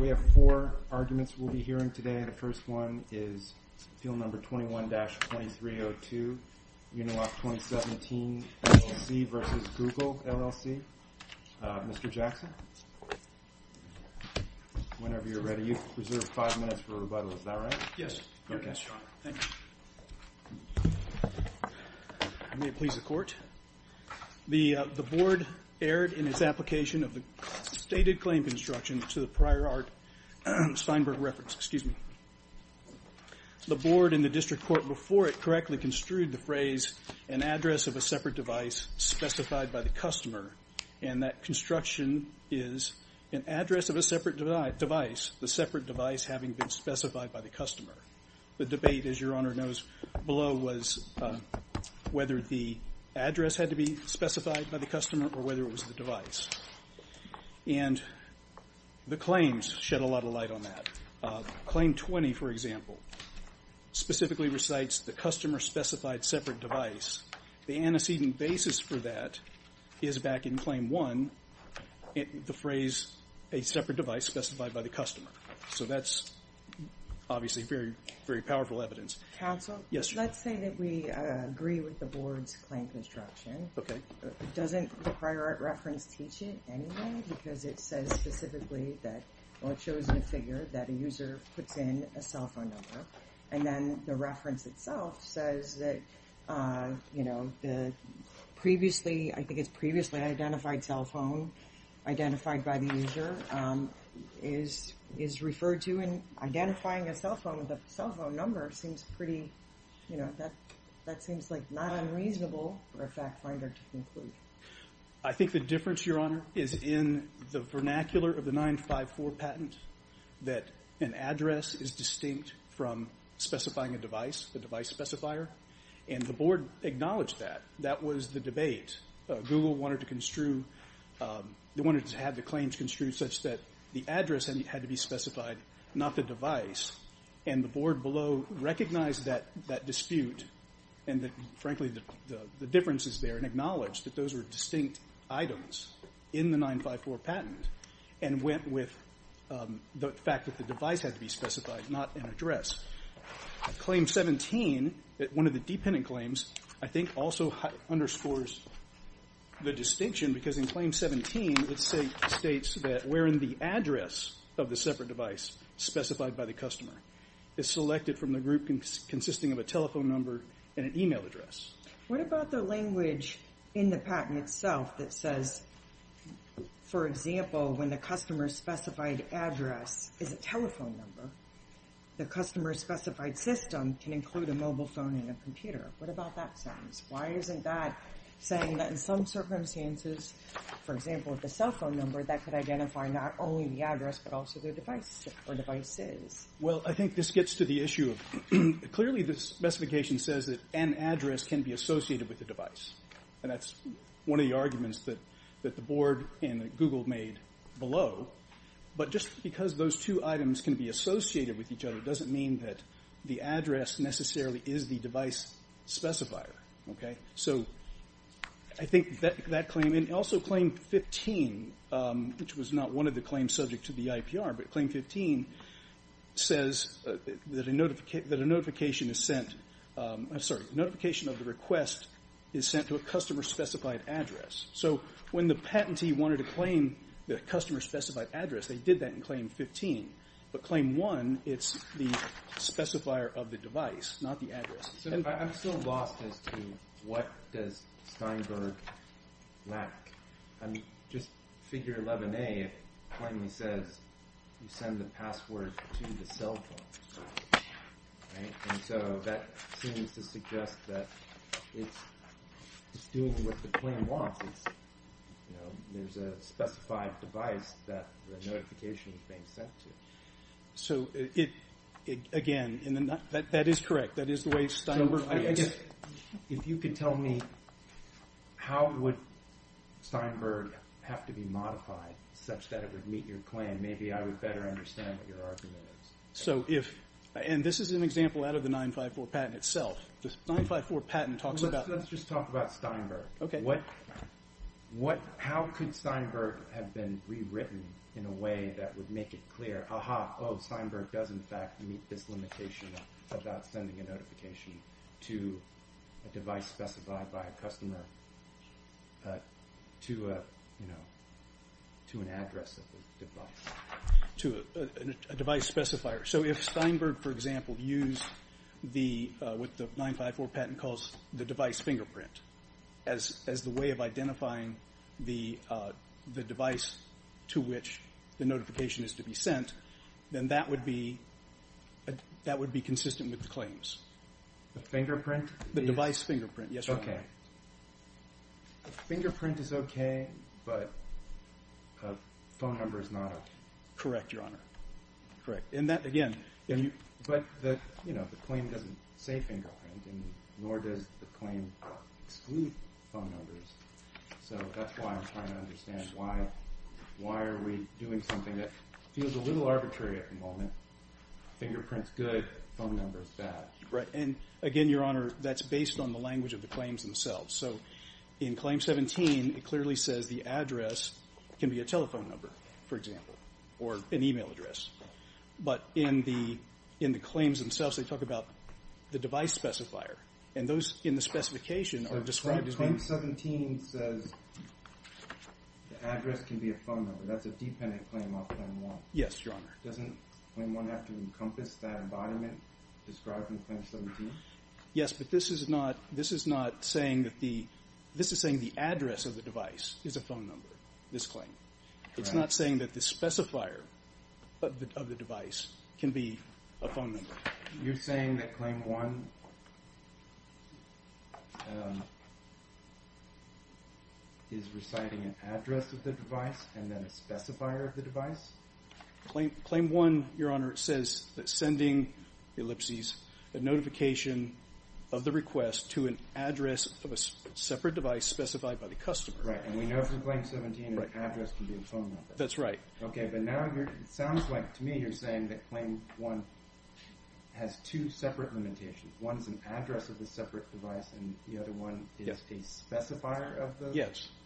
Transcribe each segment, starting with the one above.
We have four arguments we'll be hearing today. The first one is Appeal No. 21-2302 Uniloc 2017 LLC v. Google LLC. Mr. Jackson, whenever you're ready. You've reserved five minutes for rebuttal. Is that right? Yes. Thank you. May it please the court. The board erred in its application of the stated claim construction to the prior art Steinberg reference. The board and the district court before it correctly construed the phrase, an address of a separate device specified by the customer. And that construction is an address of a separate device, the separate device having been specified by the customer. The debate, as your honor knows, below was whether the address had to be specified by the customer or whether it was the device. And the claims shed a lot of light on that. Claim 20, for example, specifically recites the customer specified separate device. The antecedent basis for that is back in claim one, the phrase, a separate device specified by the customer. So that's obviously very, very powerful evidence. Counsel. Yes. Let's say that we agree with the board's claim construction. OK. Doesn't the prior reference teach it anyway? Because it says specifically that it shows a figure that a user puts in a cell phone number. And then the reference itself says that, you know, the previously I think it's previously identified cell phone identified by the user. Is is referred to in identifying a cell phone with a cell phone number seems pretty, you know, that that seems like not unreasonable for a fact finder to conclude. I think the difference, your honor, is in the vernacular of the nine five four patent that an address is distinct from specifying a device, the device specifier and the board acknowledge that that was the debate Google wanted to construe. They wanted to have the claims construed such that the address had to be specified, not the device. And the board below recognized that that dispute and that, frankly, the difference is there, and acknowledged that those were distinct items in the nine five four patent and went with the fact that the device had to be specified, not an address. Claim 17, one of the dependent claims, I think also underscores the distinction because in claim 17, it states that we're in the address of the separate device specified by the customer is selected from the group consisting of a telephone number and an email address. What about the language in the patent itself that says, for example, when the customer specified address is a telephone number, the customer specified system can include a mobile phone and a computer. What about that sentence? Why isn't that saying that in some circumstances, for example, the cell phone number that could identify not only the address, but also the device or devices? Well, I think this gets to the issue of clearly the specification says that an address can be associated with the device. And that's one of the arguments that that the board and Google made below. But just because those two items can be associated with each other doesn't mean that the address necessarily is the device specifier. So I think that claim and also claim 15, which was not one of the claims subject to the IPR, but claim 15 says that a notification of the request is sent to a customer specified address. So when the patentee wanted to claim the customer specified address, they did that in claim 15. But claim one, it's the specifier of the device, not the address. So I'm still lost as to what does Steinberg lack? I mean, just figure Lebanon finally says you send the password to the cell phone. So that seems to suggest that it's doing what the plan wants. There's a specified device that the notification is being sent to. So it again, that is correct. That is the way Steinberg. If you could tell me how would Steinberg have to be modified such that it would meet your plan? Maybe I would better understand what your argument is. And this is an example out of the 954 patent itself. The 954 patent talks about- Let's just talk about Steinberg. Okay. How could Steinberg have been rewritten in a way that would make it clear, ah-ha, oh, Steinberg does in fact meet this limitation about sending a notification to a device specified by a customer to an address of the device. To a device specifier. So if Steinberg, for example, used what the 954 patent calls the device fingerprint as the way of identifying the device to which the notification is to be sent, then that would be consistent with the claims. The fingerprint? The device fingerprint, yes. Okay. The fingerprint is okay, but a phone number is not okay. Correct, Your Honor. Correct. And that, again- But the claim doesn't say fingerprint, nor does the claim exclude phone numbers. So that's why I'm trying to understand why are we doing something that feels a little arbitrary at the moment. Fingerprint's good, phone number's bad. Right. And, again, Your Honor, that's based on the language of the claims themselves. So in Claim 17, it clearly says the address can be a telephone number, for example, or an e-mail address. But in the claims themselves, they talk about the device specifier. And those in the specification are described as being- Claim 17 says the address can be a phone number. That's a dependent claim on Claim 1. Yes, Your Honor. Doesn't Claim 1 have to encompass that embodiment described in Claim 17? Yes, but this is not saying that the address of the device is a phone number, this claim. It's not saying that the specifier of the device can be a phone number. You're saying that Claim 1 is reciting an address of the device and then a specifier of the device? Claim 1, Your Honor, says that sending ellipses, a notification of the request to an address of a separate device specified by the customer. Right, and we know from Claim 17 that the address can be a phone number. That's right. Okay, but now it sounds like to me you're saying that Claim 1 has two separate limitations. One's an address of the separate device and the other one is a specifier of the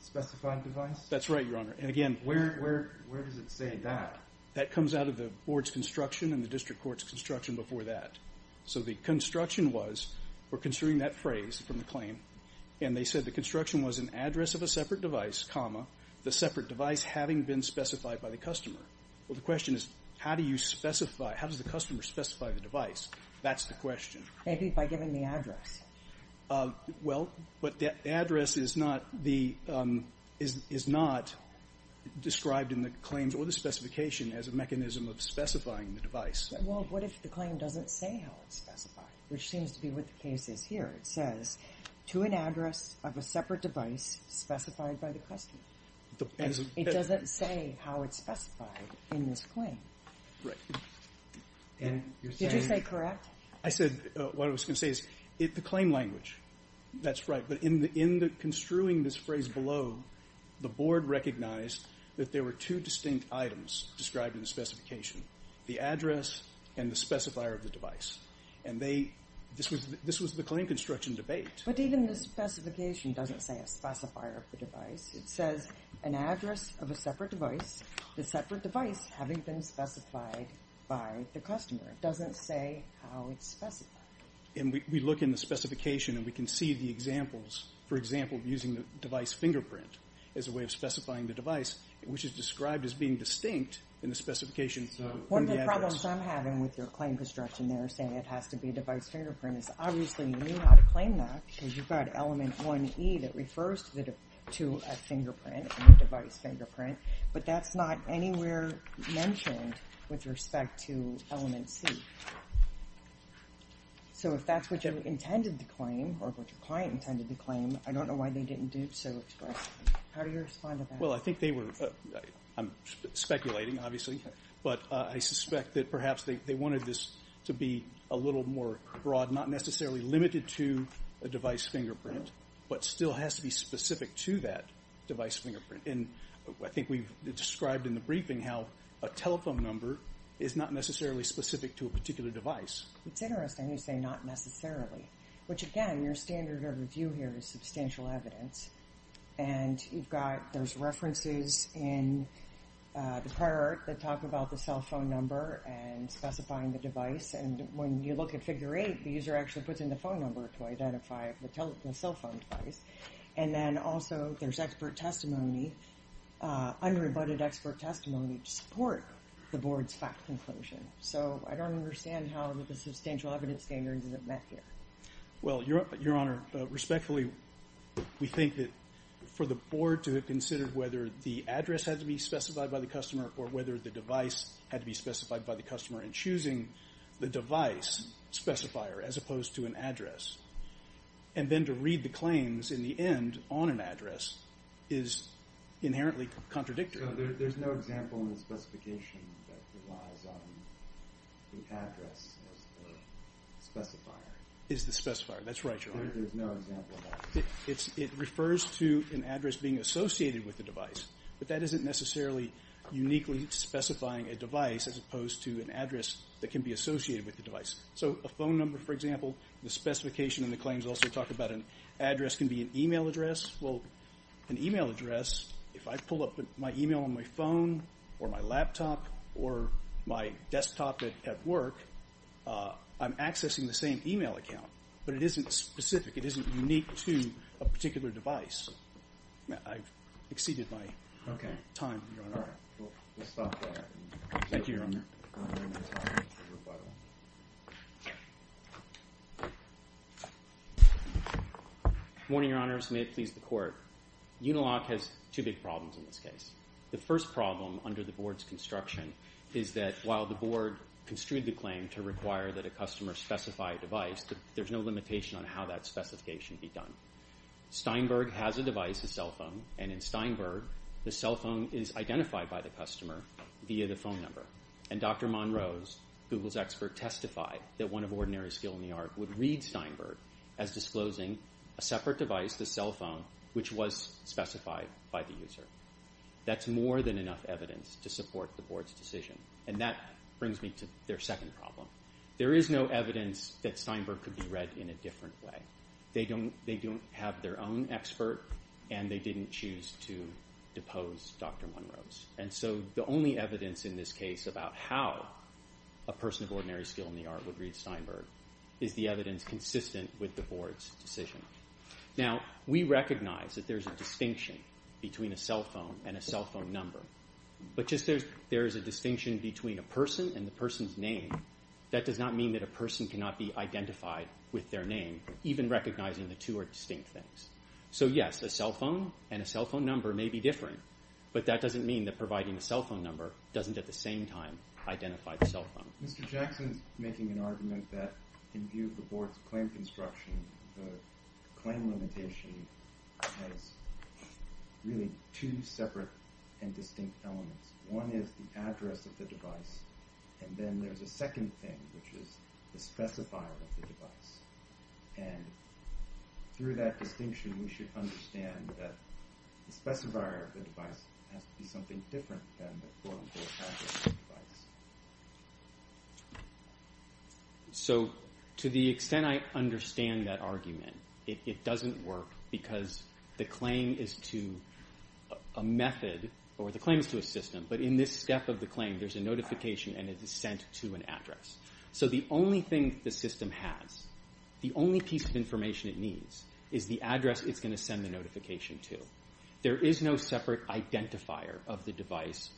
specified device? Yes, that's right, Your Honor. And again, where does it say that? That comes out of the board's construction and the district court's construction before that. So the construction was, we're considering that phrase from the claim, and they said the construction was an address of a separate device, comma, the separate device having been specified by the customer. Well, the question is how do you specify, how does the customer specify the device? That's the question. Maybe by giving the address. Well, but the address is not described in the claims or the specification as a mechanism of specifying the device. Well, what if the claim doesn't say how it's specified, which seems to be what the case is here? It says to an address of a separate device specified by the customer. It doesn't say how it's specified in this claim. Right. Did you say correct? I said what I was going to say is the claim language, that's right. But in construing this phrase below, the board recognized that there were two distinct items described in the specification, the address and the specifier of the device. And this was the claim construction debate. But even the specification doesn't say a specifier of the device. It says an address of a separate device, the separate device having been specified by the customer. It doesn't say how it's specified. And we look in the specification and we can see the examples, for example, using the device fingerprint as a way of specifying the device, which is described as being distinct in the specification. One of the problems I'm having with your claim construction there, saying it has to be a device fingerprint, is obviously you knew how to claim that because you've got element 1E that refers to a fingerprint and a device fingerprint, but that's not anywhere mentioned with respect to element C. So if that's what you intended to claim or what your client intended to claim, I don't know why they didn't do so expressly. How do you respond to that? Well, I think they were speculating, obviously, but I suspect that perhaps they wanted this to be a little more broad, not necessarily limited to a device fingerprint, but still has to be specific to that device fingerprint. And I think we've described in the briefing how a telephone number is not necessarily specific to a particular device. It's interesting you say not necessarily, which again your standard of review here is substantial evidence. And you've got those references in the prior art that talk about the cell phone number and specifying the device. And when you look at Figure 8, the user actually puts in the phone number to identify the cell phone device. And then also there's expert testimony, unrebutted expert testimony to support the Board's fact conclusion. So I don't understand how the substantial evidence standard isn't met here. Well, Your Honor, respectfully, we think that for the Board to have considered whether the address had to be specified by the customer or whether the device had to be specified by the customer in choosing the device specifier as opposed to an address, and then to read the claims in the end on an address is inherently contradictory. There's no example in the specification that relies on the address as the specifier. It's the specifier. That's right, Your Honor. There's no example of that. It refers to an address being associated with the device, but that isn't necessarily uniquely specifying a device as opposed to an address that can be associated with the device. So a phone number, for example, the specification in the claims also talk about an address can be an e-mail address. Well, an e-mail address, if I pull up my e-mail on my phone or my laptop or my desktop at work, I'm accessing the same e-mail account. But it isn't specific. It isn't unique to a particular device. I've exceeded my time, Your Honor. We'll stop there. Thank you, Your Honor. Morning, Your Honors. May it please the Court. Unilock has two big problems in this case. The first problem under the Board's construction is that while the Board construed the claim to require that a customer specify a device, there's no limitation on how that specification be done. Steinberg has a device, a cell phone, and in Steinberg the cell phone is identified by the customer via the phone number. And Dr. Monroe's, Google's expert, testified that one of ordinary skill in the art would read Steinberg as disclosing a separate device, the cell phone, which was specified by the user. That's more than enough evidence to support the Board's decision. And that brings me to their second problem. There is no evidence that Steinberg could be read in a different way. They don't have their own expert, and they didn't choose to depose Dr. Monroe's. And so the only evidence in this case about how a person of ordinary skill in the art would read Steinberg is the evidence consistent with the Board's decision. Now, we recognize that there's a distinction between a cell phone and a cell phone number. But just as there is a distinction between a person and the person's name, that does not mean that a person cannot be identified with their name, even recognizing the two are distinct things. So, yes, a cell phone and a cell phone number may be different, but that doesn't mean that providing a cell phone number doesn't at the same time identify the cell phone. Mr. Jackson's making an argument that in view of the Board's claim construction, the claim limitation has really two separate and distinct elements. One is the address of the device, and then there's a second thing, which is the specifier of the device. And through that distinction, we should understand that the specifier of the device has to be something different than the form to attach it to the device. So to the extent I understand that argument, it doesn't work because the claim is to a method, or the claim is to a system, but in this step of the claim, there's a notification and it is sent to an address. So the only thing the system has, the only piece of information it needs, is the address it's going to send the notification to. There is no separate identifier of the device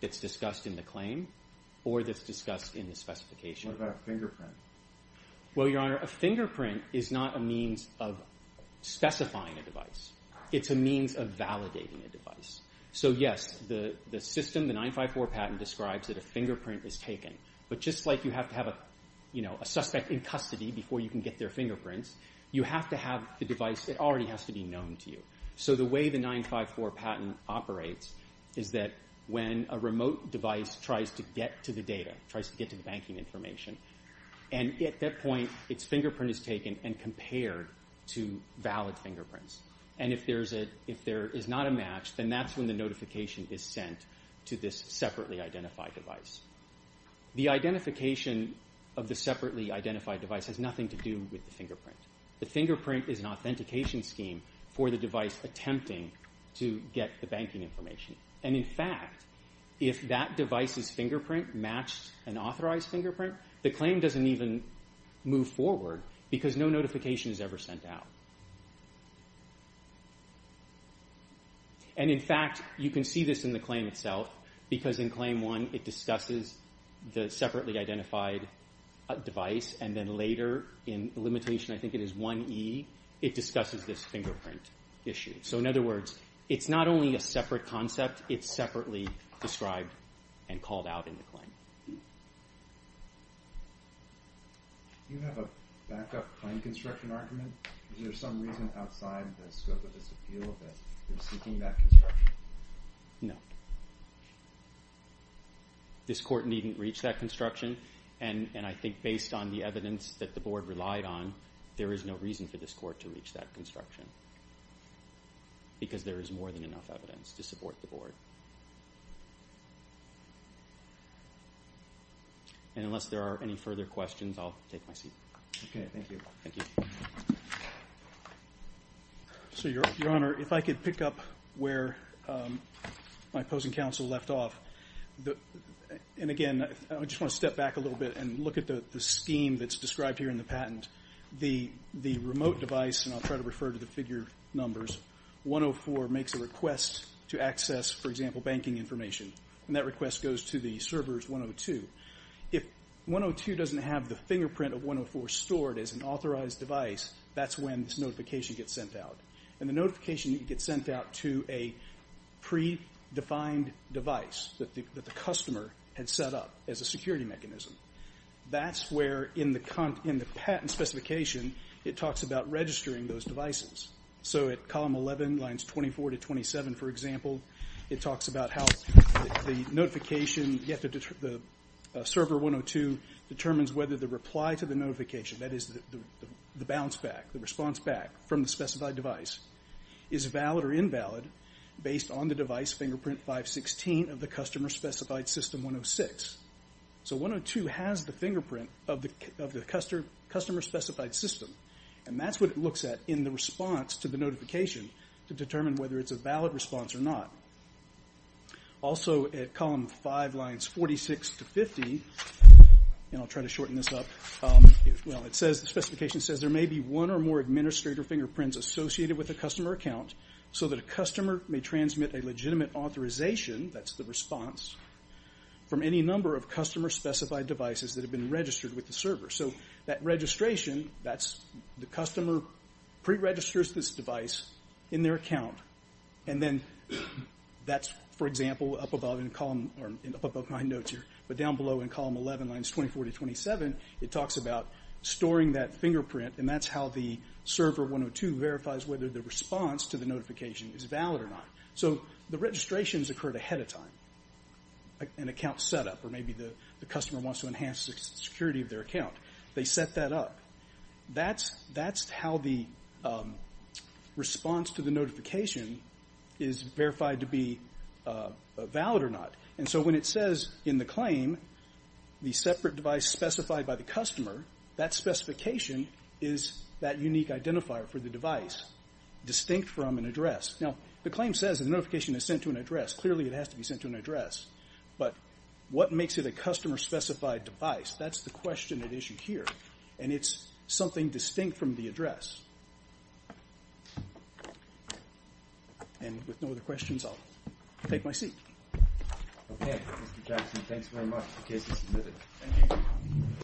that's discussed in the claim or that's discussed in the specification. What about a fingerprint? Well, Your Honor, a fingerprint is not a means of specifying a device. It's a means of validating a device. So, yes, the system, the 954 patent, describes that a fingerprint is taken, but just like you have to have a suspect in custody before you can get their fingerprints, you have to have the device that already has to be known to you. So the way the 954 patent operates is that when a remote device tries to get to the data, tries to get to the banking information, and at that point, its fingerprint is taken and compared to valid fingerprints. And if there is not a match, then that's when the notification is sent to this separately identified device. The identification of the separately identified device has nothing to do with the fingerprint. The fingerprint is an authentication scheme for the device attempting to get the banking information. And, in fact, if that device's fingerprint matched an authorized fingerprint, the claim doesn't even move forward because no notification is ever sent out. And, in fact, you can see this in the claim itself, because in Claim 1 it discusses the separately identified device, and then later in Limitation, I think it is 1e, it discusses this fingerprint issue. So, in other words, it's not only a separate concept, it's separately described and called out in the claim. Do you have a backup claim construction argument? Is there some reason outside the scope of this appeal that you're seeking that construction? No. This court needn't reach that construction, and I think based on the evidence that the board relied on, there is no reason for this court to reach that construction, because there is more than enough evidence to support the board. And unless there are any further questions, I'll take my seat. Okay, thank you. Thank you. So, Your Honor, if I could pick up where my opposing counsel left off. And, again, I just want to step back a little bit and look at the scheme that's described here in the patent. The remote device, and I'll try to refer to the figure numbers, 104 makes a request to access, for example, banking information, and that request goes to the servers 102. If 102 doesn't have the fingerprint of 104 stored as an authorized device, that's when this notification gets sent out. And the notification gets sent out to a predefined device that the customer had set up as a security mechanism. That's where, in the patent specification, it talks about registering those devices. So at column 11, lines 24 to 27, for example, it talks about how the notification, the server 102 determines whether the reply to the notification, that is the bounce back, the response back from the specified device, is valid or invalid based on the device fingerprint 516 of the customer-specified system 106. So 102 has the fingerprint of the customer-specified system, and that's what it looks at in the response to the notification to determine whether it's a valid response or not. Also at column 5, lines 46 to 50, and I'll try to shorten this up, the specification says there may be one or more administrator fingerprints associated with a customer account so that a customer may transmit a legitimate authorization, that's the response, from any number of customer-specified devices that have been registered with the server. So that registration, that's the customer pre-registers this device in their account, and then that's, for example, up above in the column, or up above my notes here, but down below in column 11, lines 24 to 27, it talks about storing that fingerprint, and that's how the server 102 verifies whether the response to the notification is valid or not. So the registrations occurred ahead of time, an account setup, or maybe the customer wants to enhance the security of their account. They set that up. That's how the response to the notification is verified to be valid or not. And so when it says in the claim the separate device specified by the customer, that specification is that unique identifier for the device distinct from an address. Now the claim says the notification is sent to an address. Clearly it has to be sent to an address. But what makes it a customer-specified device, that's the question at issue here, and it's something distinct from the address. And with no other questions, I'll take my seat. Okay, Mr. Jackson, thanks very much. The case is submitted. Thank you.